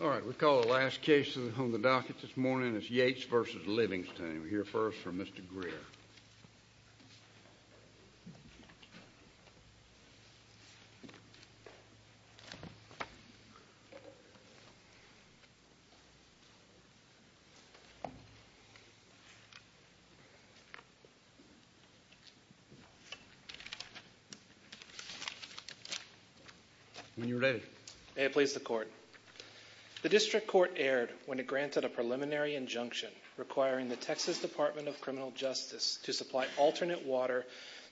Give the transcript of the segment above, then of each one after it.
All right, we call the last case on the docket this morning, it's Yates v. Livingston. We call the last case on the docket this morning, it's Yates v. Bailey. We call the last case on the docket this morning, it's Yates v.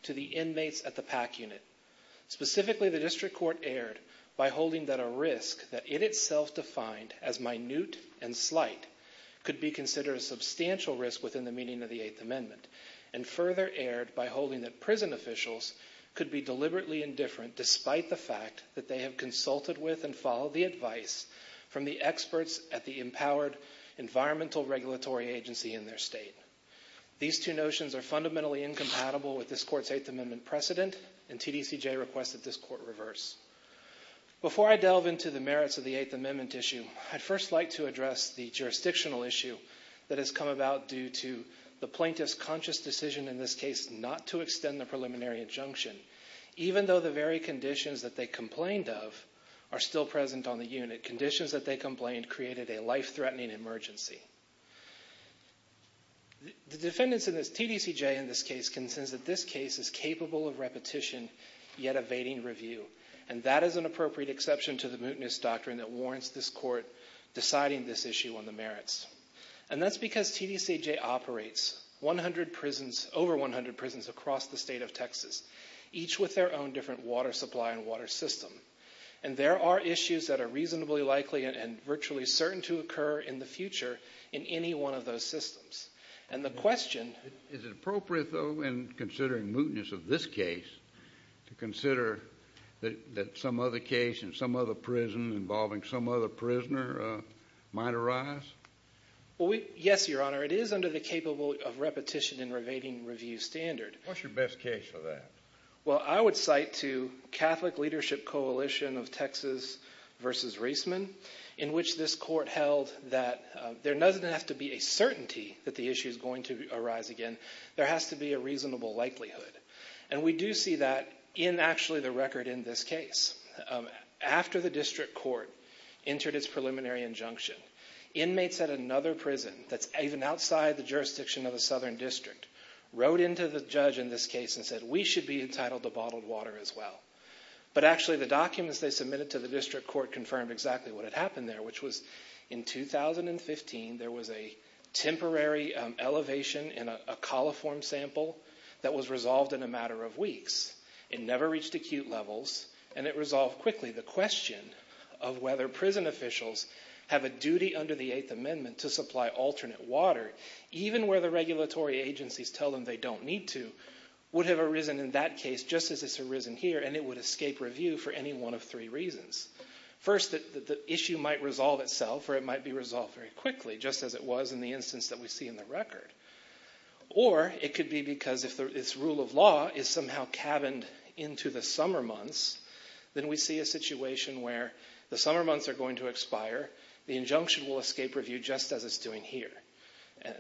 to the inmates at the PAC unit. Specifically, the district court erred by holding that a risk that in itself defined as minute and slight could be considered a substantial risk within the meaning of the 8th amendment, and further erred by holding that prison officials could be deliberately indifferent despite the fact that they have consulted with and followed the advice from the experts at the empowered environmental regulatory agency in their state. These two notions are fundamentally incompatible with this court's 8th amendment precedent, and TDCJ requested this court reverse. Before I delve into the merits of the 8th amendment issue, I'd first like to address the jurisdictional issue that has come about due to the plaintiff's conscious decision in this case not to extend the preliminary injunction, even though the very conditions that they complained of are still present on the unit, conditions that they complained created a life-threatening emergency. The defendants in this TDCJ in this case can sense that this case is capable of repetition, yet evading review, and that is an appropriate exception to the mootness doctrine that warrants this court deciding this issue on the merits. And that's because TDCJ operates over 100 prisons across the state of Texas, each with their own different water supply and water system, and there are issues that are reasonably likely and virtually certain to occur in the future in any one of those systems. Is it appropriate, though, in considering mootness of this case to consider that some other case in some other prison involving some other prisoner might arise? Yes, Your Honor. It is under the capable of repetition and evading review standard. What's your best case for that? Well, I would cite to Catholic Leadership Coalition of Texas v. Reisman, in which this court held that there doesn't have to be a certainty that the issue is going to arise again. There has to be a reasonable likelihood, and we do see that in, actually, the record in this case. After the district court entered its preliminary injunction, inmates at another prison that's even outside the jurisdiction of the Southern District wrote in to the judge in this case and said, we should be entitled to bottled water as well. But actually, the documents they submitted to the district court confirmed exactly what had happened there, which was in 2015, there was a temporary elevation in a coliform sample that was resolved in a matter of weeks. It never reached acute levels, and it resolved quickly the question of whether prison officials have a duty under the Eighth Amendment to supply alternate water, even where the regulatory agencies tell them they don't need to, would have arisen in that case just as it's arisen here, and it would escape review for any one of three reasons. First, the issue might resolve itself, or it might be resolved very quickly, just as it was in the instance that we see in the record. Or it could be because if this rule of law is somehow cabined into the summer months, then we see a situation where the summer months are going to expire, the injunction will escape review just as it's doing here.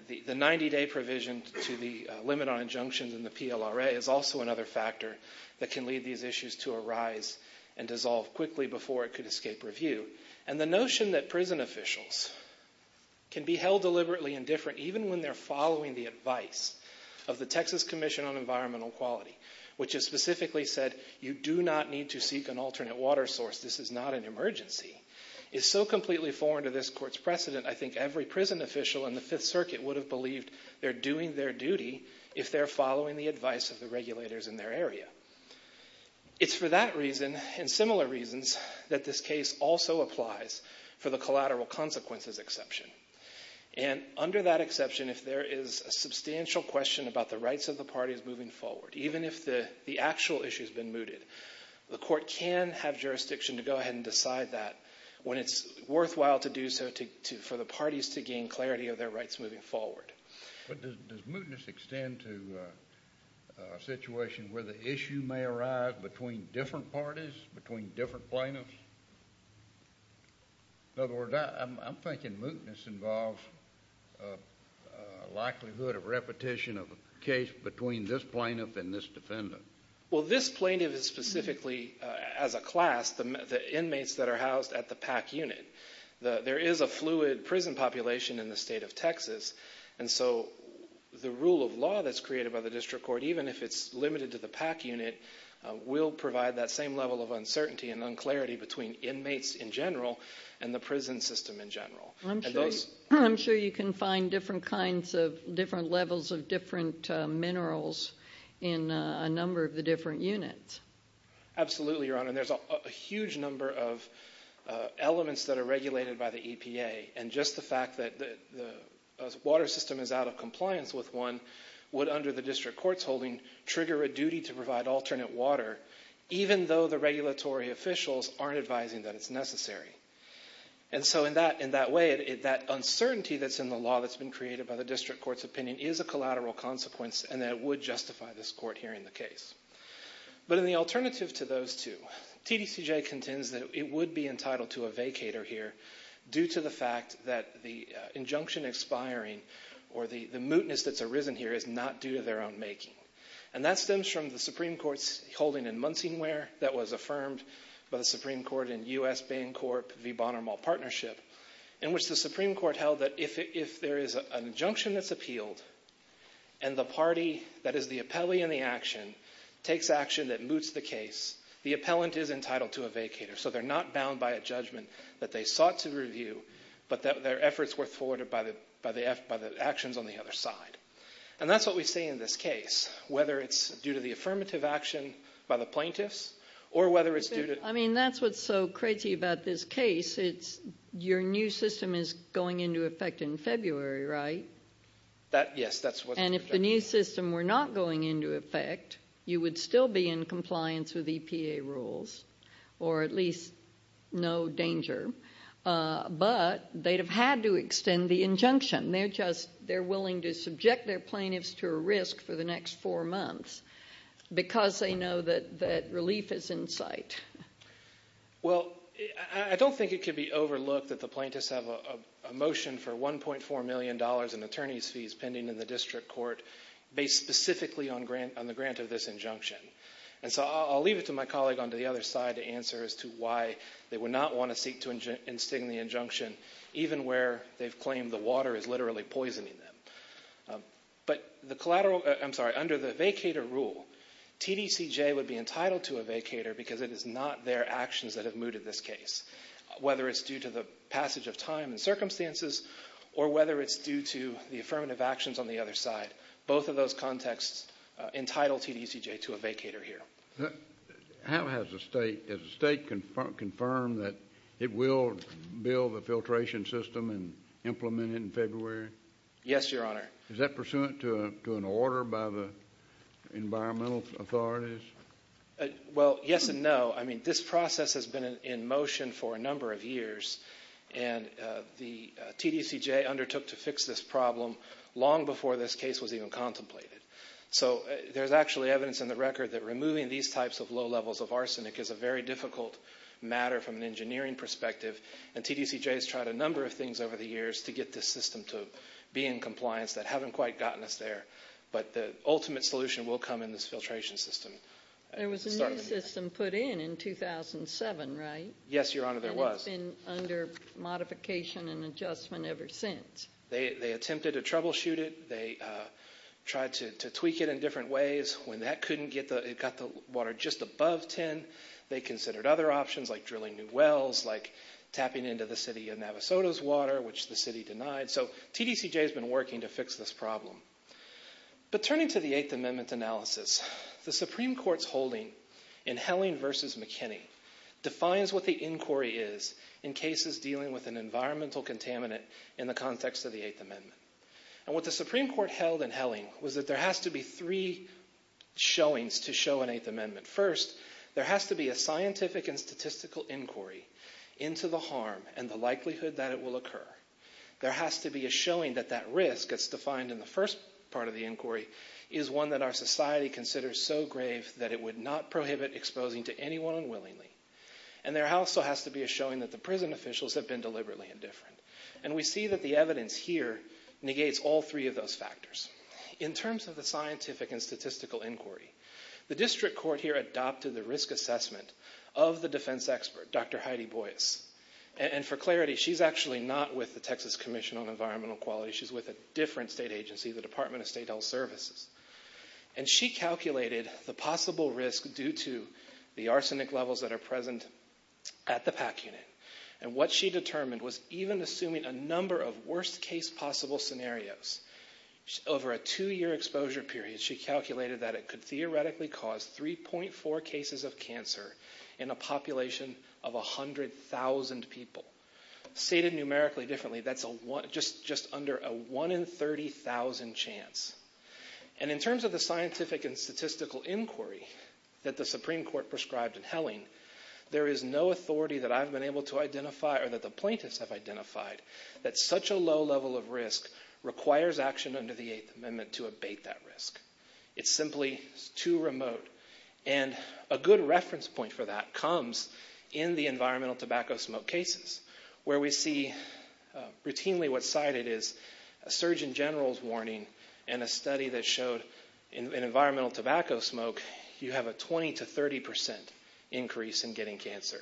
The 90-day provision to the limit on injunctions in the PLRA is also another factor that can lead these issues to arise and dissolve quickly before it could escape review. And the notion that prison officials can be held deliberately indifferent even when they're following the advice of the Texas Commission on Environmental Quality, which has specifically said you do not need to seek an alternate water source, this is not an emergency, is so completely foreign to this Court's precedent, I think every prison official in the Fifth Circuit would have believed they're doing their duty if they're following the advice of the regulators in their area. It's for that reason and similar reasons that this case also applies for the collateral consequences exception. And under that exception, if there is a substantial question about the rights of the parties moving forward, even if the actual issue has been mooted, the Court can have jurisdiction to go ahead and decide that when it's worthwhile to do so for the parties to gain clarity of their rights moving forward. But does mootness extend to a situation where the issue may arise between different parties, between different plaintiffs? In other words, I'm thinking mootness involves a likelihood of repetition of a case between this plaintiff and this defendant. Well, this plaintiff is specifically, as a class, the inmates that are housed at the PAC unit. There is a fluid prison population in the state of Texas, and so the rule of law that's created by the District Court, even if it's limited to the PAC unit, will provide that same level of uncertainty and unclarity between inmates in general and the prison system in general. I'm sure you can find different levels of different minerals in a number of the different units. Absolutely, Your Honor, and there's a huge number of elements that are regulated by the EPA, and just the fact that the water system is out of compliance with one would, under the District Court's holding, trigger a duty to provide alternate water, even though the regulatory officials aren't advising that it's necessary. And so in that way, that uncertainty that's in the law that's been created by the District Court's opinion is a collateral consequence, but in the alternative to those two, TDCJ contends that it would be entitled to a vacator here due to the fact that the injunction expiring or the mootness that's arisen here is not due to their own making, and that stems from the Supreme Court's holding in Munsingware that was affirmed by the Supreme Court in U.S.-Bancorp v. Bonnar Mall Partnership, in which the Supreme Court held that if there is an injunction that's appealed and the party that is the appellee in the action takes action that moots the case, the appellant is entitled to a vacator. So they're not bound by a judgment that they sought to review, but their efforts were thwarted by the actions on the other side. And that's what we see in this case, whether it's due to the affirmative action by the plaintiffs or whether it's due to— I mean, that's what's so crazy about this case. Your new system is going into effect in February, right? Yes, that's what's projected. And if the new system were not going into effect, you would still be in compliance with EPA rules or at least no danger, They're willing to subject their plaintiffs to a risk for the next four months because they know that relief is in sight. Well, I don't think it could be overlooked that the plaintiffs have a motion for $1.4 million in attorney's fees pending in the district court based specifically on the grant of this injunction. And so I'll leave it to my colleague on the other side to answer as to why they would not want to seek to instigate the injunction, even where they've claimed the water is literally poisoning them. But the collateral—I'm sorry, under the vacator rule, TDCJ would be entitled to a vacator because it is not their actions that have mooted this case, whether it's due to the passage of time and circumstances or whether it's due to the affirmative actions on the other side. Both of those contexts entitle TDCJ to a vacator here. How has the state—has the state confirmed that it will build a filtration system and implement it in February? Yes, Your Honor. Is that pursuant to an order by the environmental authorities? Well, yes and no. I mean, this process has been in motion for a number of years, and the TDCJ undertook to fix this problem long before this case was even contemplated. So there's actually evidence in the record that removing these types of low levels of arsenic is a very difficult matter from an engineering perspective, and TDCJ has tried a number of things over the years to get this system to be in compliance that haven't quite gotten us there. But the ultimate solution will come in this filtration system. There was a new system put in in 2007, right? Yes, Your Honor, there was. And it's been under modification and adjustment ever since. They attempted to troubleshoot it. They tried to tweak it in different ways. When that couldn't get the—it got the water just above 10, they considered other options like drilling new wells, like tapping into the city of Navasota's water, which the city denied. So TDCJ has been working to fix this problem. But turning to the Eighth Amendment analysis, the Supreme Court's holding in Helling v. McKinney defines what the inquiry is in cases dealing with an environmental contaminant in the context of the Eighth Amendment. And what the Supreme Court held in Helling was that there has to be three showings to show an Eighth Amendment. First, there has to be a scientific and statistical inquiry into the harm and the likelihood that it will occur. There has to be a showing that that risk, as defined in the first part of the inquiry, is one that our society considers so grave that it would not prohibit exposing to anyone unwillingly. And there also has to be a showing that the prison officials have been deliberately indifferent. And we see that the evidence here negates all three of those factors. In terms of the scientific and statistical inquiry, the district court here adopted the risk assessment of the defense expert, Dr. Heidi Boyce. And for clarity, she's actually not with the Texas Commission on Environmental Quality. She's with a different state agency, the Department of State Health Services. And she calculated the possible risk due to the arsenic levels that are present at the PAC unit. And what she determined was even assuming a number of worst-case possible scenarios. Over a two-year exposure period, she calculated that it could theoretically cause 3.4 cases of cancer in a population of 100,000 people. Stated numerically differently, that's just under a one-in-30,000 chance. And in terms of the scientific and statistical inquiry that the Supreme Court prescribed in Helling, there is no authority that I've been able to identify or that the plaintiffs have identified that such a low level of risk requires action under the Eighth Amendment to abate that risk. It's simply too remote. And a good reference point for that comes in the environmental tobacco smoke cases, where we see routinely what's cited as a surgeon general's warning and a study that showed in environmental tobacco smoke, you have a 20% to 30% increase in getting cancer.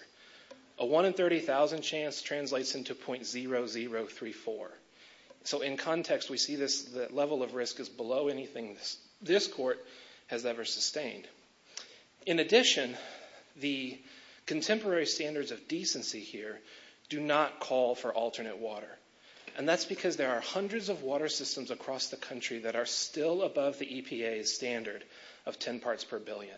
A one-in-30,000 chance translates into .0034. So in context, we see the level of risk is below anything this court has ever sustained. In addition, the contemporary standards of decency here do not call for alternate water. And that's because there are hundreds of water systems across the country that are still above the EPA's standard of 10 parts per billion.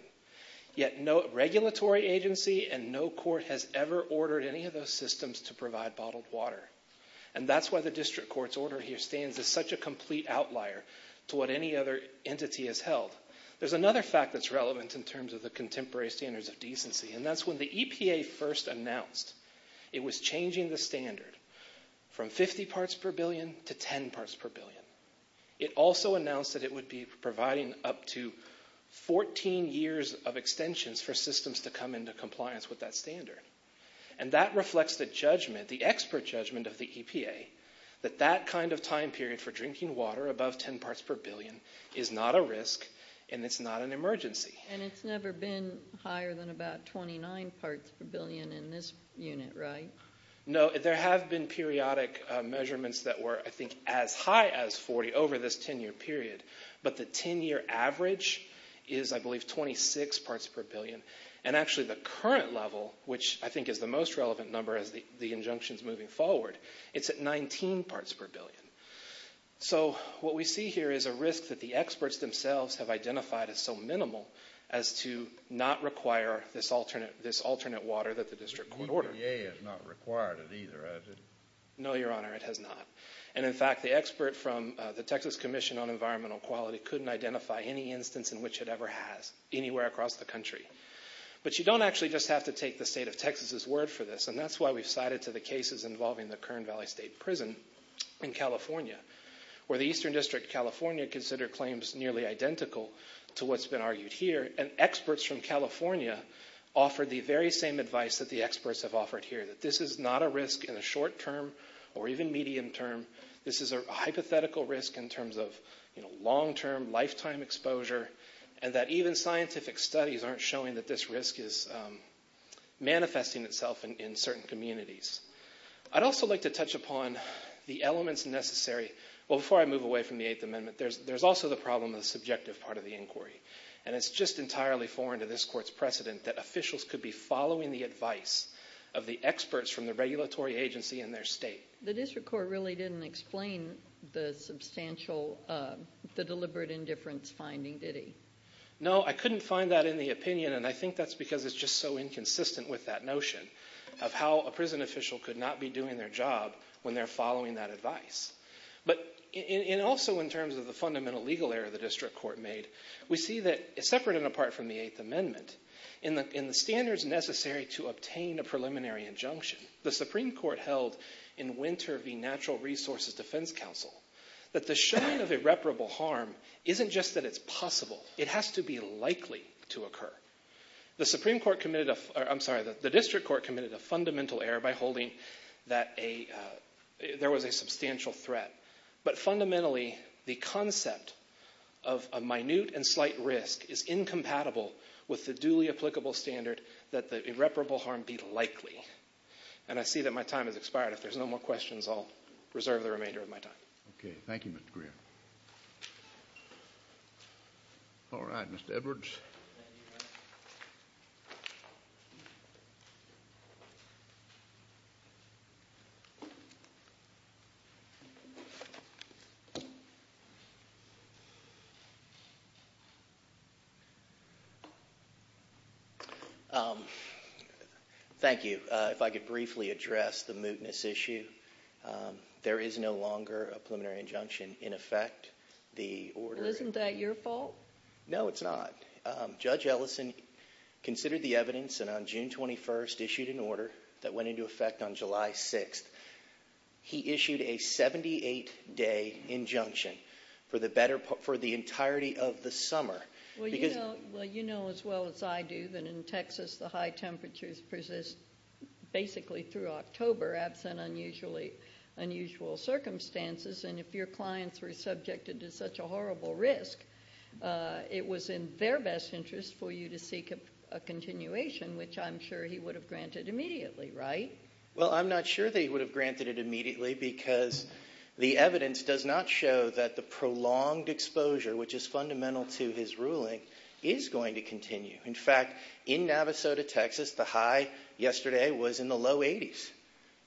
Yet no regulatory agency and no court has ever ordered any of those systems to provide bottled water. And that's why the district court's order here stands as such a complete outlier to what any other entity has held. There's another fact that's relevant in terms of the contemporary standards of decency, and that's when the EPA first announced it was changing the standard from 50 parts per billion to 10 parts per billion. It also announced that it would be providing up to 14 years of extensions for systems to come into compliance with that standard. And that reflects the judgment, the expert judgment of the EPA, that that kind of time period for drinking water above 10 parts per billion is not a risk and it's not an emergency. And it's never been higher than about 29 parts per billion in this unit, right? No, there have been periodic measurements that were, I think, as high as 40 over this 10-year period. But the 10-year average is, I believe, 26 parts per billion. And actually, the current level, which I think is the most relevant number as the injunction's moving forward, it's at 19 parts per billion. So what we see here is a risk that the experts themselves have identified as so minimal as to not require this alternate water that the district court ordered. EPA has not required it either, has it? No, Your Honor, it has not. And in fact, the expert from the Texas Commission on Environmental Quality couldn't identify any instance in which it ever has anywhere across the country. But you don't actually just have to take the state of Texas' word for this, and that's why we've cited to the cases involving the Kern Valley State Prison in California, where the Eastern District of California considered claims nearly identical to what's been argued here. And experts from California offered the very same advice that the experts have offered here, that this is not a risk in the short term or even medium term. This is a hypothetical risk in terms of long-term, lifetime exposure, and that even scientific studies aren't showing that this risk is manifesting itself in certain communities. I'd also like to touch upon the elements necessary. Well, before I move away from the Eighth Amendment, there's also the problem of the subjective part of the inquiry. And it's just entirely foreign to this Court's precedent that officials could be following the advice of the experts from the regulatory agency in their state. The District Court really didn't explain the deliberate indifference finding, did he? No, I couldn't find that in the opinion, and I think that's because it's just so inconsistent with that notion of how a prison official could not be doing their job when they're following that advice. But also in terms of the fundamental legal error the District Court made, we see that separate and apart from the Eighth Amendment, in the standards necessary to obtain a preliminary injunction, the Supreme Court held in Winter v. Natural Resources Defense Council that the showing of irreparable harm isn't just that it's possible, it has to be likely to occur. The District Court committed a fundamental error by holding that there was a substantial threat, but fundamentally the concept of a minute and slight risk is incompatible with the duly applicable standard that the irreparable harm be likely. And I see that my time has expired. If there's no more questions, I'll reserve the remainder of my time. Okay, thank you, Mr. Greer. All right, Mr. Edwards. Thank you. If I could briefly address the mootness issue. There is no longer a preliminary injunction in effect. Isn't that your fault? No, it's not. Judge Ellison considered the evidence and on June 21st issued an order that went into effect on July 6th. He issued a 78-day injunction for the entirety of the summer. Well, you know as well as I do that in Texas the high temperatures persist basically through October, perhaps in unusual circumstances. And if your clients were subjected to such a horrible risk, it was in their best interest for you to seek a continuation, which I'm sure he would have granted immediately, right? Well, I'm not sure that he would have granted it immediately because the evidence does not show that the prolonged exposure, which is fundamental to his ruling, is going to continue. In fact, in Navasota, Texas, the high yesterday was in the low 80s.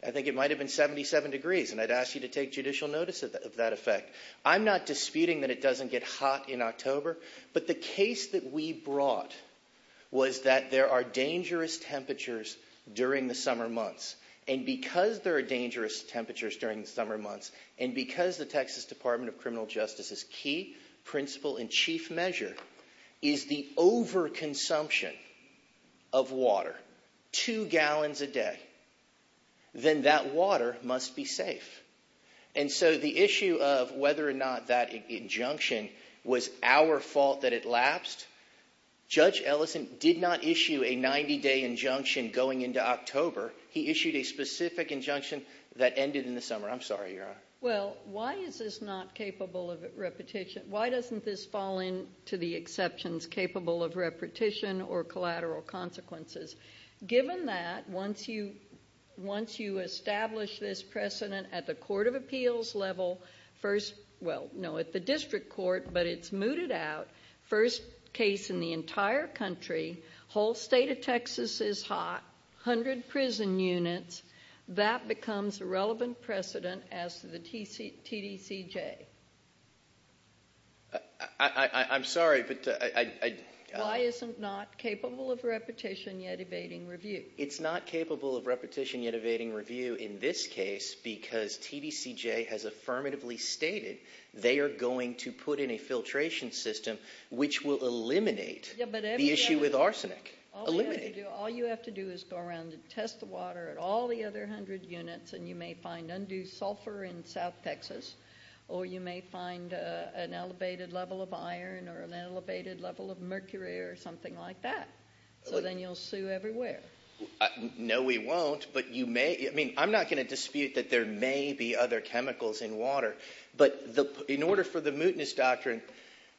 I think it might have been 77 degrees, and I'd ask you to take judicial notice of that effect. I'm not disputing that it doesn't get hot in October, but the case that we brought was that there are dangerous temperatures during the summer months. And because there are dangerous temperatures during the summer months and because the Texas Department of Criminal Justice's key principle and chief measure is the overconsumption of water, two gallons a day, then that water must be safe. And so the issue of whether or not that injunction was our fault that it lapsed, Judge Ellison did not issue a 90-day injunction going into October. He issued a specific injunction that ended in the summer. I'm sorry, Your Honor. Well, why is this not capable of repetition? Why doesn't this fall into the exceptions capable of repetition or collateral consequences? Given that, once you establish this precedent at the court of appeals level, first, well, no, at the district court, but it's mooted out, first case in the entire country, whole state of Texas is hot, 100 prison units, that becomes a relevant precedent as to the TDCJ. I'm sorry, but I— Why is it not capable of repetition yet evading review? It's not capable of repetition yet evading review in this case because TDCJ has affirmatively stated they are going to put in a filtration system All you have to do is go around and test the water at all the other 100 units, and you may find undue sulfur in south Texas, or you may find an elevated level of iron or an elevated level of mercury or something like that. So then you'll sue everywhere. No, we won't, but you may. I mean, I'm not going to dispute that there may be other chemicals in water, but in order for the mootness doctrine,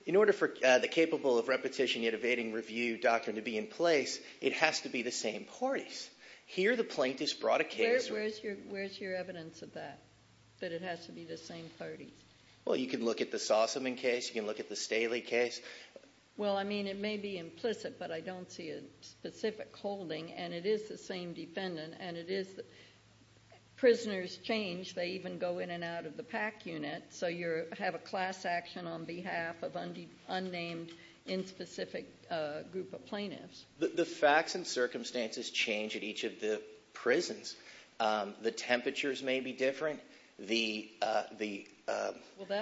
in order for the capable of repetition yet evading review doctrine to be in place, it has to be the same parties. Here the plaintiffs brought a case— Where's your evidence of that, that it has to be the same parties? Well, you can look at the Sossaman case. You can look at the Staley case. Well, I mean, it may be implicit, but I don't see a specific holding, and it is the same defendant, and it is—prisoners change. They even go in and out of the PAC unit, so you have a class action on behalf of an unnamed, inspecific group of plaintiffs. The facts and circumstances change at each of the prisons. The temperatures may be different. The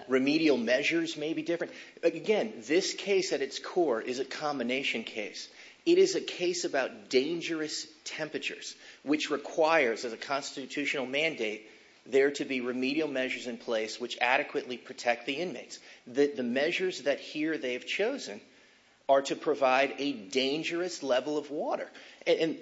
remedial measures may be different. Again, this case at its core is a combination case. It is a case about dangerous temperatures, which requires as a constitutional mandate there to be remedial measures in place which adequately protect the inmates. The measures that here they have chosen are to provide a dangerous level of water. And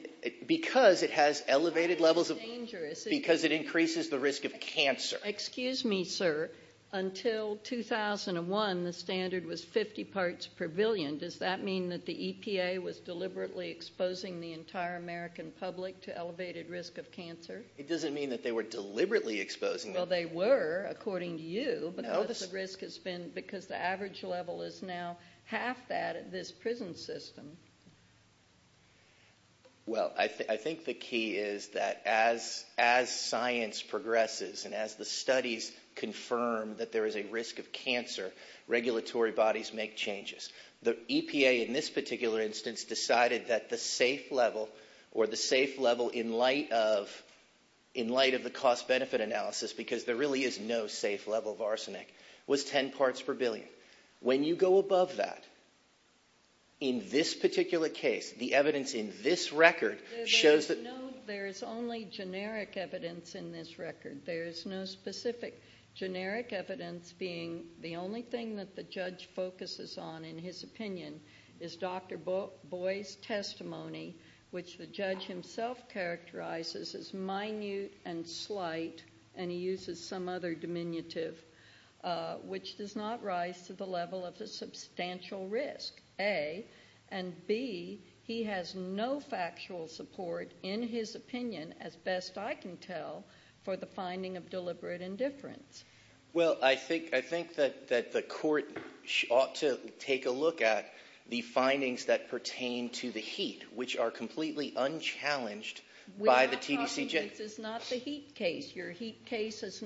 because it has elevated levels of— Dangerous. Because it increases the risk of cancer. Excuse me, sir. Until 2001, the standard was 50 parts per billion. Does that mean that the EPA was deliberately exposing the entire American public to elevated risk of cancer? It doesn't mean that they were deliberately exposing it. Well, they were, according to you, because the average level is now half that at this prison system. Well, I think the key is that as science progresses and as the studies confirm that there is a risk of cancer, regulatory bodies make changes. The EPA in this particular instance decided that the safe level, in light of the cost-benefit analysis, because there really is no safe level of arsenic, was 10 parts per billion. When you go above that, in this particular case, the evidence in this record shows that— There is only generic evidence in this record. There is no specific generic evidence, being the only thing that the judge focuses on in his opinion is Dr. Boyd's testimony, which the judge himself characterizes as minute and slight, and he uses some other diminutive, which does not rise to the level of a substantial risk, A. And, B, he has no factual support, in his opinion, as best I can tell, for the finding of deliberate indifference. Well, I think that the court ought to take a look at the findings that pertain to the heat, which are completely unchallenged by the TDC— We're not talking—this is not the heat case. Your heat case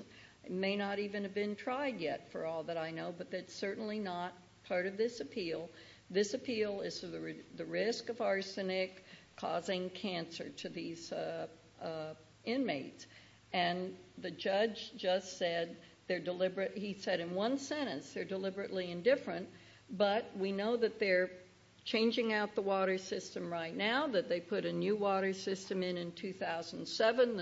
may not even have been tried yet, for all that I know, but that's certainly not part of this appeal. This appeal is the risk of arsenic causing cancer to these inmates, and the judge just said they're deliberate— he said in one sentence they're deliberately indifferent, but we know that they're changing out the water system right now, that they put a new water system in in 2007,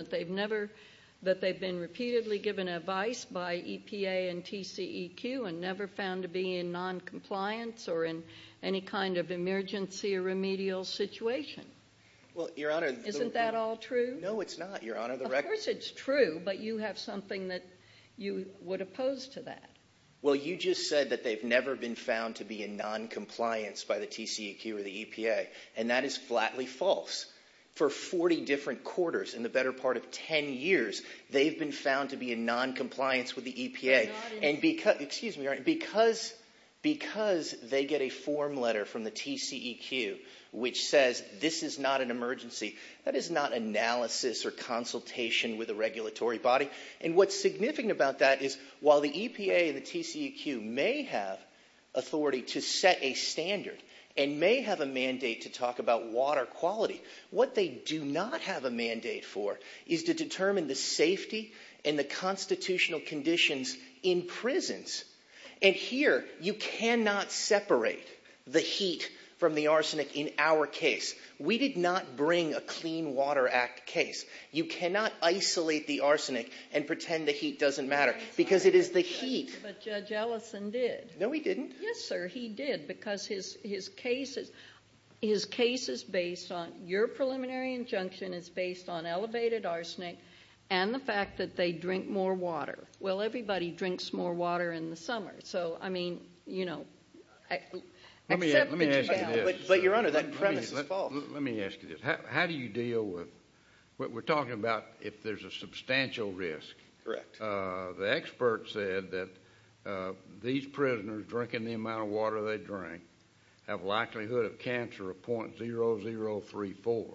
that they've been repeatedly given advice by EPA and TCEQ and never found to be in noncompliance or in any kind of emergency or remedial situation. Well, Your Honor— Isn't that all true? No, it's not, Your Honor. Of course it's true, but you have something that you would oppose to that. Well, you just said that they've never been found to be in noncompliance by the TCEQ or the EPA, and that is flatly false. For 40 different quarters, in the better part of 10 years, they've been found to be in noncompliance with the EPA. They're not in— Excuse me, Your Honor. Because they get a form letter from the TCEQ which says this is not an emergency, that is not analysis or consultation with a regulatory body, and what's significant about that is while the EPA and the TCEQ may have authority to set a standard and may have a mandate to talk about water quality, what they do not have a mandate for is to determine the safety and the constitutional conditions in prisons, and here you cannot separate the heat from the arsenic in our case. We did not bring a Clean Water Act case. You cannot isolate the arsenic and pretend the heat doesn't matter because it is the heat. But Judge Ellison did. No, he didn't. Yes, sir, he did because his case is based on—your preliminary injunction is based on elevated arsenic and the fact that they drink more water. Well, everybody drinks more water in the summer, so, I mean, you know, except that you— Let me ask you this. But, Your Honor, that premise is false. Let me ask you this. How do you deal with—we're talking about if there's a substantial risk. Correct. The expert said that these prisoners drinking the amount of water they drink have likelihood of cancer of .0034.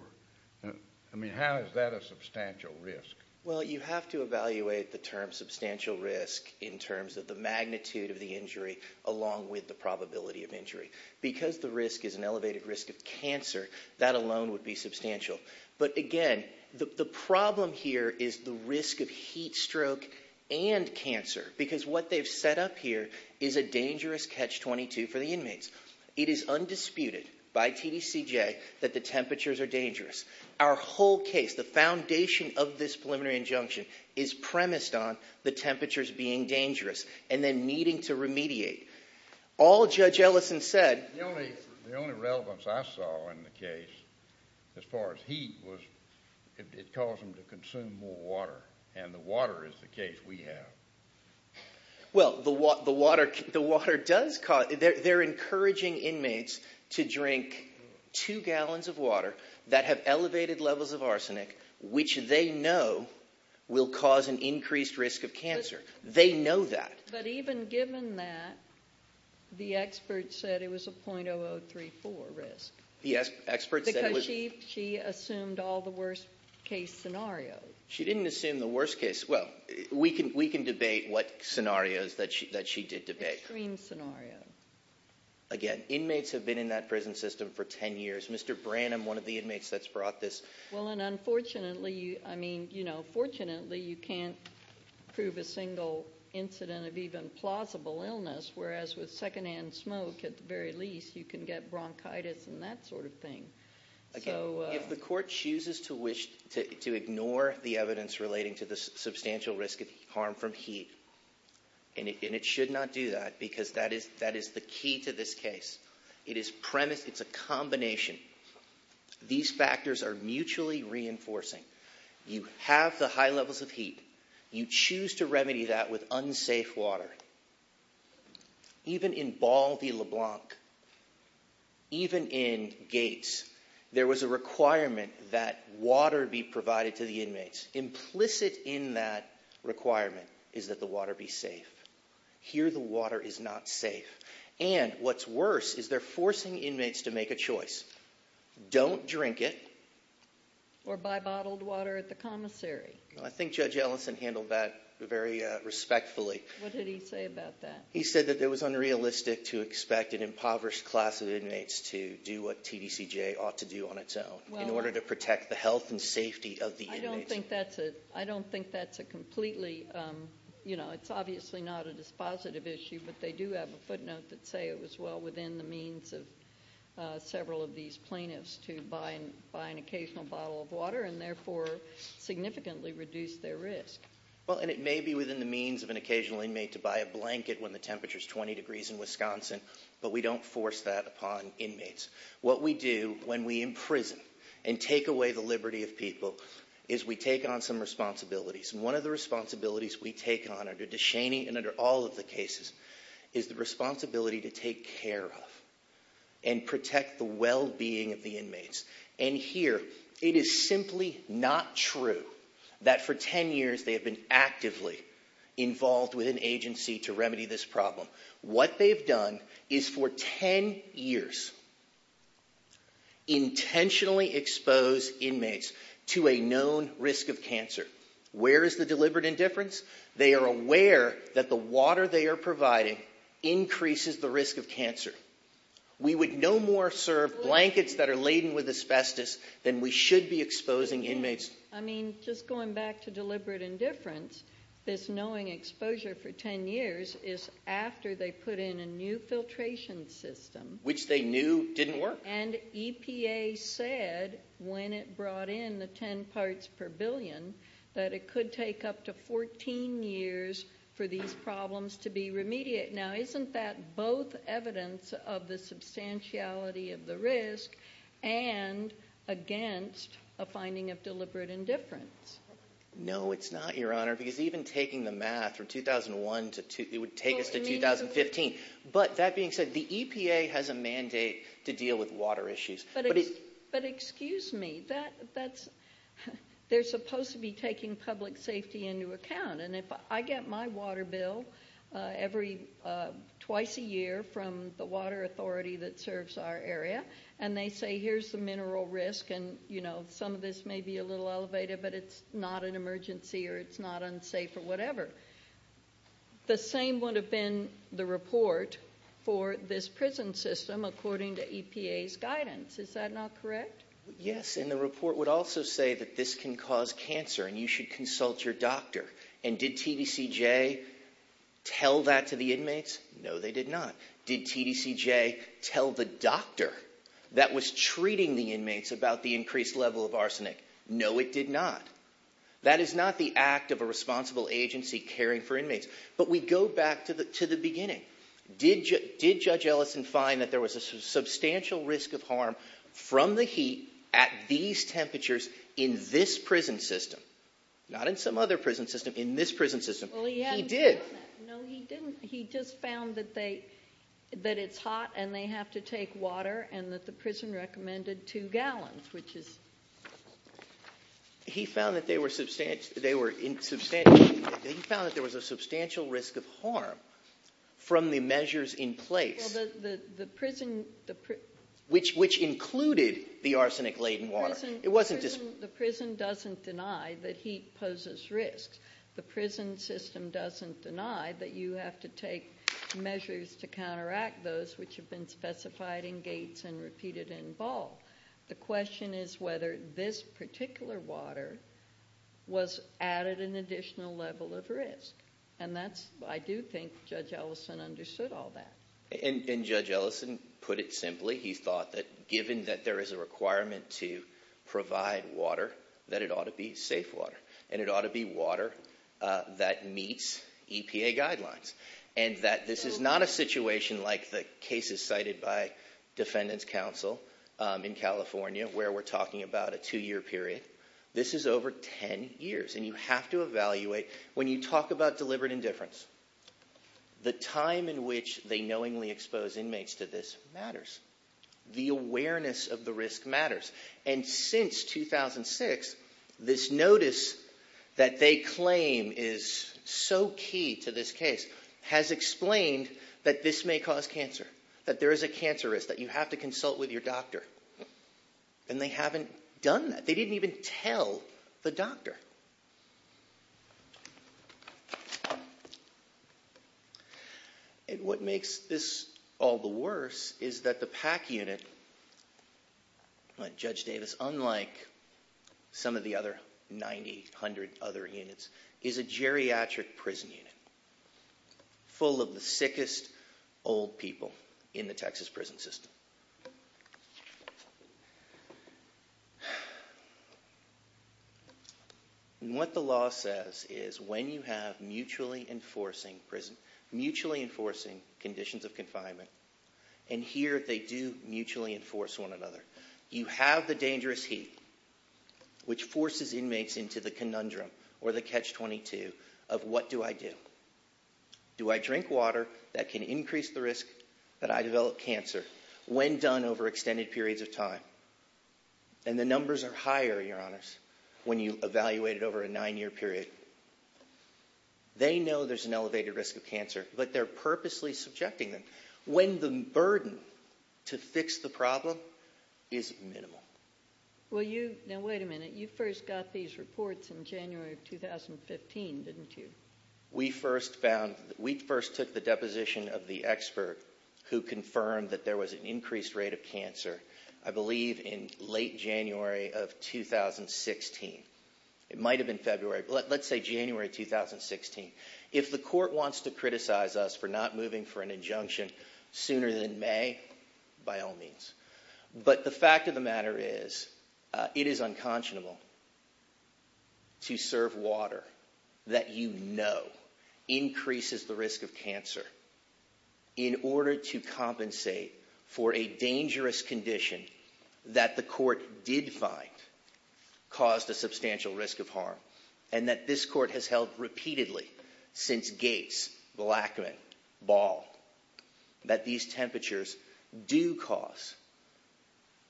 I mean, how is that a substantial risk? Well, you have to evaluate the term substantial risk in terms of the magnitude of the injury along with the probability of injury. Because the risk is an elevated risk of cancer, that alone would be substantial. But, again, the problem here is the risk of heat stroke and cancer because what they've set up here is a dangerous catch-22 for the inmates. It is undisputed by TDCJ that the temperatures are dangerous. Our whole case, the foundation of this preliminary injunction, is premised on the temperatures being dangerous and then needing to remediate. All Judge Ellison said— The only relevance I saw in the case as far as heat was it caused them to consume more water, and the water is the case we have. Well, the water does cause—they're encouraging inmates to drink two gallons of water that have elevated levels of arsenic, which they know will cause an increased risk of cancer. They know that. But even given that, the expert said it was a .0034 risk. The expert said it was— Because she assumed all the worst-case scenarios. She didn't assume the worst case—well, we can debate what scenarios that she did debate. Extreme scenarios. Again, inmates have been in that prison system for 10 years. Mr. Branham, one of the inmates that's brought this— Well, and unfortunately—I mean, you know, fortunately, you can't prove a single incident of even plausible illness, whereas with secondhand smoke, at the very least, you can get bronchitis and that sort of thing. If the court chooses to ignore the evidence relating to the substantial risk of harm from heat— and it should not do that because that is the key to this case. It is premised—it's a combination. These factors are mutually reinforcing. You have the high levels of heat. You choose to remedy that with unsafe water. Even in Baldy-LeBlanc, even in Gates, there was a requirement that water be provided to the inmates. Implicit in that requirement is that the water be safe. Here, the water is not safe. And what's worse is they're forcing inmates to make a choice. Don't drink it. Or buy bottled water at the commissary. I think Judge Ellison handled that very respectfully. What did he say about that? He said that it was unrealistic to expect an impoverished class of inmates to do what TDCJ ought to do on its own in order to protect the health and safety of the inmates. I don't think that's a completely—you know, it's obviously not a dispositive issue, but they do have a footnote that say it was well within the means of several of these plaintiffs to buy an occasional bottle of water and therefore significantly reduce their risk. Well, and it may be within the means of an occasional inmate to buy a blanket when the temperature is 20 degrees in Wisconsin, but we don't force that upon inmates. What we do when we imprison and take away the liberty of people is we take on some responsibilities. And one of the responsibilities we take on under DeShaney and under all of the cases is the responsibility to take care of and protect the well-being of the inmates. And here it is simply not true that for 10 years they have been actively involved with an agency to remedy this problem. What they've done is for 10 years intentionally expose inmates to a known risk of cancer Where is the deliberate indifference? They are aware that the water they are providing increases the risk of cancer. We would no more serve blankets that are laden with asbestos than we should be exposing inmates. I mean, just going back to deliberate indifference, this knowing exposure for 10 years is after they put in a new filtration system. Which they knew didn't work. And EPA said when it brought in the 10 parts per billion that it could take up to 14 years for these problems to be remedied. Now isn't that both evidence of the substantiality of the risk and against a finding of deliberate indifference? No, it's not, Your Honor. Because even taking the math from 2001 to, it would take us to 2015. But that being said, the EPA has a mandate to deal with water issues. But excuse me, they're supposed to be taking public safety into account. And if I get my water bill twice a year from the water authority that serves our area, and they say here's the mineral risk, and some of this may be a little elevated, but it's not an emergency or it's not unsafe or whatever. The same would have been the report for this prison system according to EPA's guidance. Is that not correct? Yes, and the report would also say that this can cause cancer and you should consult your doctor. And did TDCJ tell that to the inmates? No, they did not. Did TDCJ tell the doctor that was treating the inmates about the increased level of arsenic? No, it did not. That is not the act of a responsible agency caring for inmates. But we go back to the beginning. Did Judge Ellison find that there was a substantial risk of harm from the heat at these temperatures in this prison system? Not in some other prison system, in this prison system. He did. No, he didn't. He just found that it's hot and they have to take water and that the prison recommended two gallons, which is… He found that there was a substantial risk of harm from the measures in place. Well, the prison… Which included the arsenic-laden water. The prison doesn't deny that heat poses risks. The prison system doesn't deny that you have to take measures to counteract those which have been specified in Gates and repeated in Ball. The question is whether this particular water was added an additional level of risk. And I do think Judge Ellison understood all that. And Judge Ellison put it simply. He thought that given that there is a requirement to provide water, that it ought to be safe water. And it ought to be water that meets EPA guidelines. And that this is not a situation like the cases cited by Defendant's Counsel in California where we're talking about a two-year period. This is over ten years. And you have to evaluate. When you talk about deliberate indifference, the time in which they knowingly expose inmates to this matters. The awareness of the risk matters. And since 2006, this notice that they claim is so key to this case has explained that this may cause cancer. That there is a cancer risk. That you have to consult with your doctor. And they haven't done that. They didn't even tell the doctor. And what makes this all the worse is that the PAC unit, like Judge Davis, unlike some of the other 90, 100 other units, is a geriatric prison unit. Full of the sickest old people in the Texas prison system. And what the law says is when you have mutually enforcing conditions of confinement, and here they do mutually enforce one another. You have the dangerous heat, which forces inmates into the conundrum or the catch-22 of what do I do? Do I drink water that can increase the risk that I develop cancer when done over extended periods of time? And the numbers are higher, Your Honors, when you evaluate it over a nine-year period. They know there's an elevated risk of cancer, but they're purposely subjecting them when the burden to fix the problem is minimal. Well you, now wait a minute, you first got these reports in January of 2015, didn't you? We first found, we first took the deposition of the expert who confirmed that there was an increased rate of cancer, I believe in late January of 2016. It might have been February, but let's say January 2016. If the court wants to criticize us for not moving for an injunction sooner than May, by all means. But the fact of the matter is, it is unconscionable to serve water that you know increases the risk of cancer in order to compensate for a dangerous condition that the court did find caused a substantial risk of harm. And that this court has held repeatedly since Gates, Blackman, Ball, that these temperatures do cause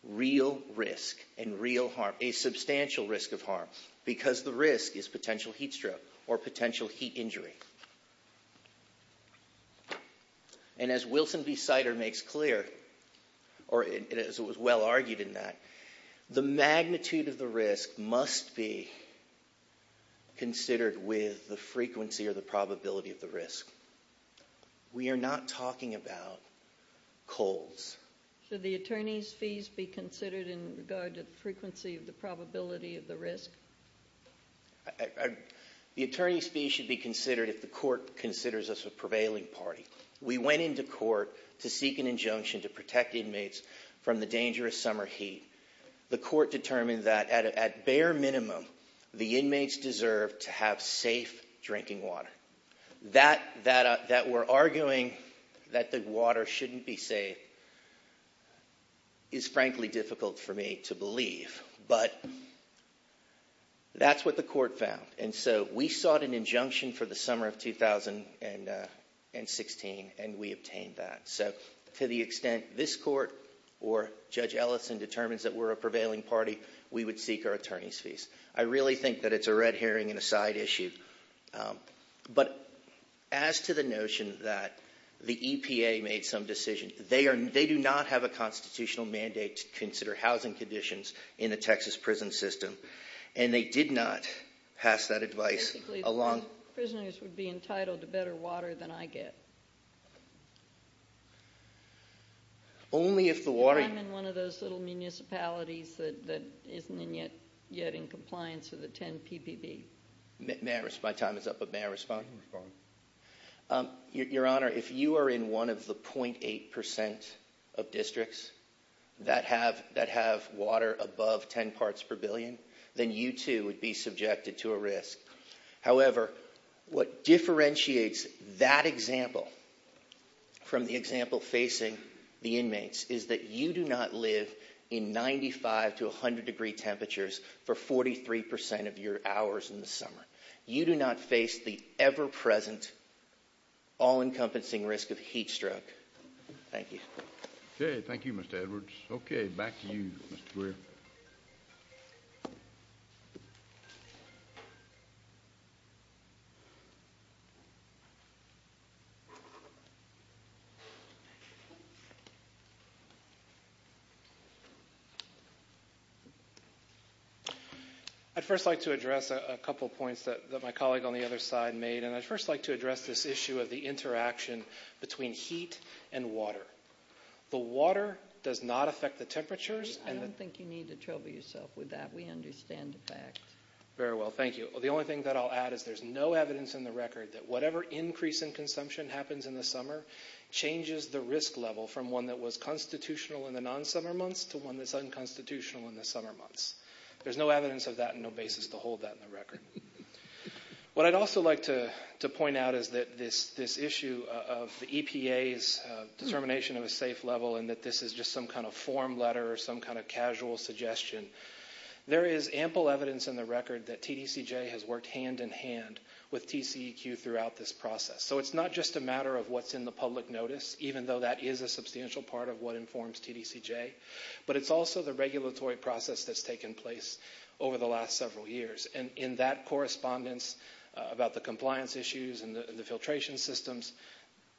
real risk and real harm, a substantial risk of harm, because the risk is potential heat stroke or potential heat injury. And as Wilson B. Sider makes clear, or as it was well argued in that, the magnitude of the risk must be considered with the frequency or the probability of the risk. We are not talking about colds. Should the attorney's fees be considered in regard to the frequency of the probability of the risk? The attorney's fees should be considered if the court considers us a prevailing party. We went into court to seek an injunction to protect inmates from the dangerous summer heat. The court determined that at bare minimum the inmates deserve to have safe drinking water. That we're arguing that the water shouldn't be safe is frankly difficult for me to believe. But that's what the court found. And so we sought an injunction for the summer of 2016 and we obtained that. So to the extent this court or Judge Ellison determines that we're a prevailing party, we would seek our attorney's fees. I really think that it's a red herring and a side issue. But as to the notion that the EPA made some decision, they do not have a constitutional mandate to consider housing conditions in the Texas prison system. And they did not pass that advice along. Basically, those prisoners would be entitled to better water than I get. Only if the water... If I'm in one of those little municipalities that isn't yet in compliance with the 10 PPP. My time is up, but may I respond? You can respond. Your Honor, if you are in one of the 0.8% of districts that have water above 10 parts per billion, then you too would be subjected to a risk. However, what differentiates that example from the example facing the inmates is that you do not live in 95 to 100 degree temperatures for 43% of your hours in the summer. You do not face the ever-present, all-encompassing risk of heat stroke. Thank you. Okay, thank you, Mr. Edwards. Okay, back to you, Mr. Greer. I'd first like to address a couple points that my colleague on the other side made. And I'd first like to address this issue of the interaction between heat and water. The water does not affect the temperatures. I don't think you need to trouble yourself with that. We understand the fact. Very well, thank you. The only thing that I'll add is there's no evidence in the record that whatever increase in consumption happens in the summer changes the risk level from one that was constitutional in the non-summer months to one that's unconstitutional in the summer months. There's no evidence of that and no basis to hold that in the record. What I'd also like to point out is that this issue of the EPA's determination of a safe level and that this is just some kind of form letter or some kind of casual suggestion, there is ample evidence in the record that TDCJ has worked hand-in-hand with TCEQ throughout this process. So it's not just a matter of what's in the public notice, even though that is a substantial part of what informs TDCJ, but it's also the regulatory process that's taken place over the last several years. And in that correspondence about the compliance issues and the filtration systems,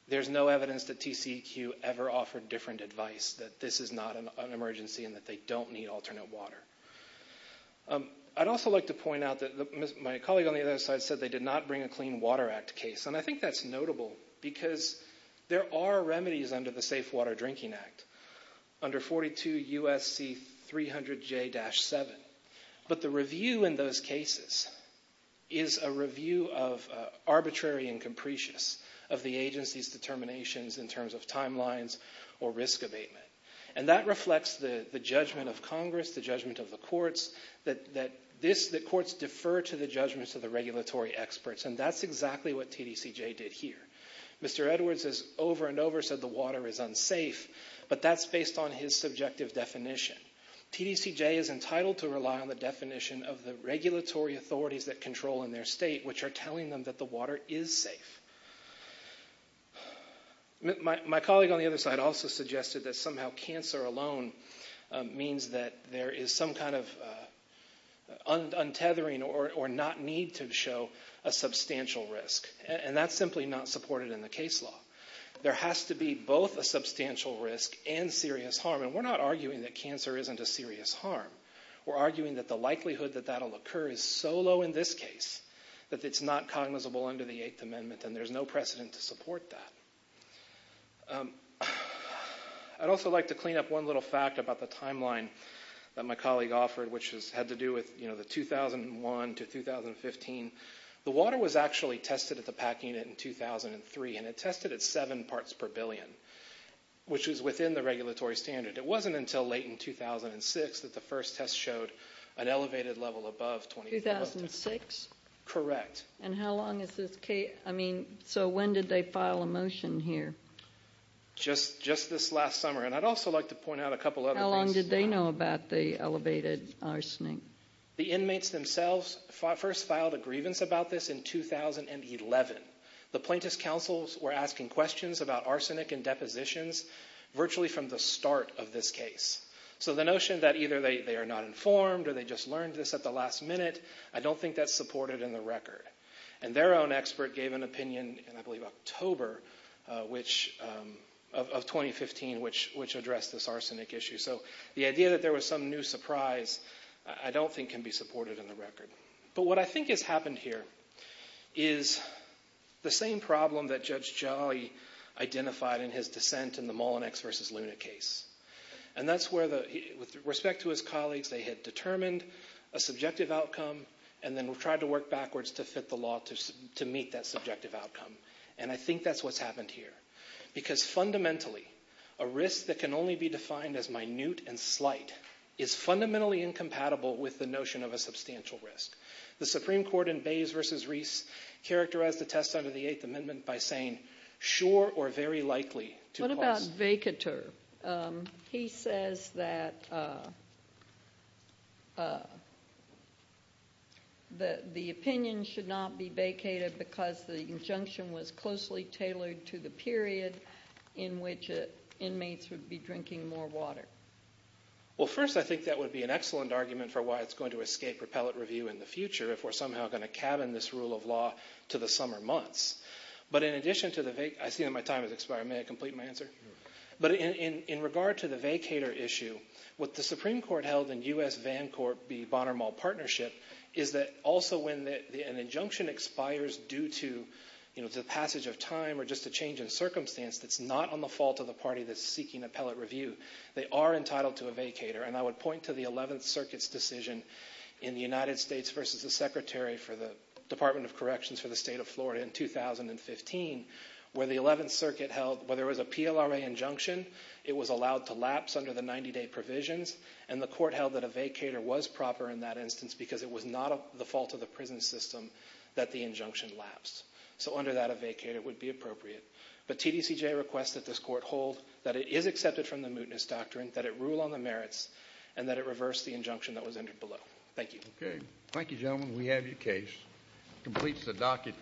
there's no evidence that TCEQ ever offered different advice that this is not an emergency and that they don't need alternate water. I'd also like to point out that my colleague on the other side said they did not bring a Clean Water Act case, and I think that's notable because there are remedies under the Safe Water Drinking Act, under 42 U.S.C. 300J-7. But the review in those cases is a review of arbitrary and capricious of the agency's determinations in terms of timelines or risk abatement. And that reflects the judgment of Congress, the judgment of the courts, that courts defer to the judgments of the regulatory experts. And that's exactly what TDCJ did here. Mr. Edwards has over and over said the water is unsafe, but that's based on his subjective definition. TDCJ is entitled to rely on the definition of the regulatory authorities that control in their state, which are telling them that the water is safe. My colleague on the other side also suggested that somehow cancer alone means that there is some kind of untethering or not need to show a substantial risk. And that's simply not supported in the case law. There has to be both a substantial risk and serious harm. And we're not arguing that cancer isn't a serious harm. We're arguing that the likelihood that that will occur is so low in this case that it's not cognizable under the Eighth Amendment, and there's no precedent to support that. I'd also like to clean up one little fact about the timeline that my colleague offered, which had to do with the 2001 to 2015. The water was actually tested at the PAC Unit in 2003, and it tested at seven parts per billion, which was within the regulatory standard. It wasn't until late in 2006 that the first test showed an elevated level above 24. In 2006? Correct. And how long is this case? I mean, so when did they file a motion here? Just this last summer. And I'd also like to point out a couple other things. How long did they know about the elevated arsenic? The inmates themselves first filed a grievance about this in 2011. The plaintiff's counsels were asking questions about arsenic in depositions virtually from the start of this case. So the notion that either they are not informed or they just learned this at the last minute, I don't think that's supported in the record. And their own expert gave an opinion in, I believe, October of 2015, which addressed this arsenic issue. So the idea that there was some new surprise I don't think can be supported in the record. But what I think has happened here is the same problem that Judge Jolly identified in his dissent in the Mullinex v. Luna case. And that's where, with respect to his colleagues, they had determined a subjective outcome and then tried to work backwards to fit the law to meet that subjective outcome. And I think that's what's happened here. Because fundamentally, a risk that can only be defined as minute and slight is fundamentally incompatible with the notion of a substantial risk. The Supreme Court in Bays v. Reese characterized the test under the Eighth Amendment by saying, sure or very likely to cause- tailored to the period in which inmates would be drinking more water. First, I think that would be an excellent argument for why it's going to escape repellent review in the future if we're somehow going to cabin this rule of law to the summer months. But in addition to the vac- I see that my time has expired. May I complete my answer? But in regard to the vacator issue, what the Supreme Court held in U.S.-Vancourt v. Bonner-Mull Partnership is that also when an injunction expires due to the passage of time or just a change in circumstance that's not on the fault of the party that's seeking appellate review, they are entitled to a vacator. And I would point to the Eleventh Circuit's decision in the United States v. the Secretary for the Department of Corrections for the State of Florida in 2015 where the Eleventh Circuit held, where there was a PLRA injunction, it was allowed to lapse under the 90-day provisions and the court held that a vacator was proper in that instance because it was not the fault of the prison system that the injunction lapsed. So under that, a vacator would be appropriate. But TDCJ requests that this court hold that it is accepted from the mootness doctrine, that it rule on the merits, and that it reverse the injunction that was entered below. Thank you. Okay. Thank you, gentlemen. We have your case. Completes the docket.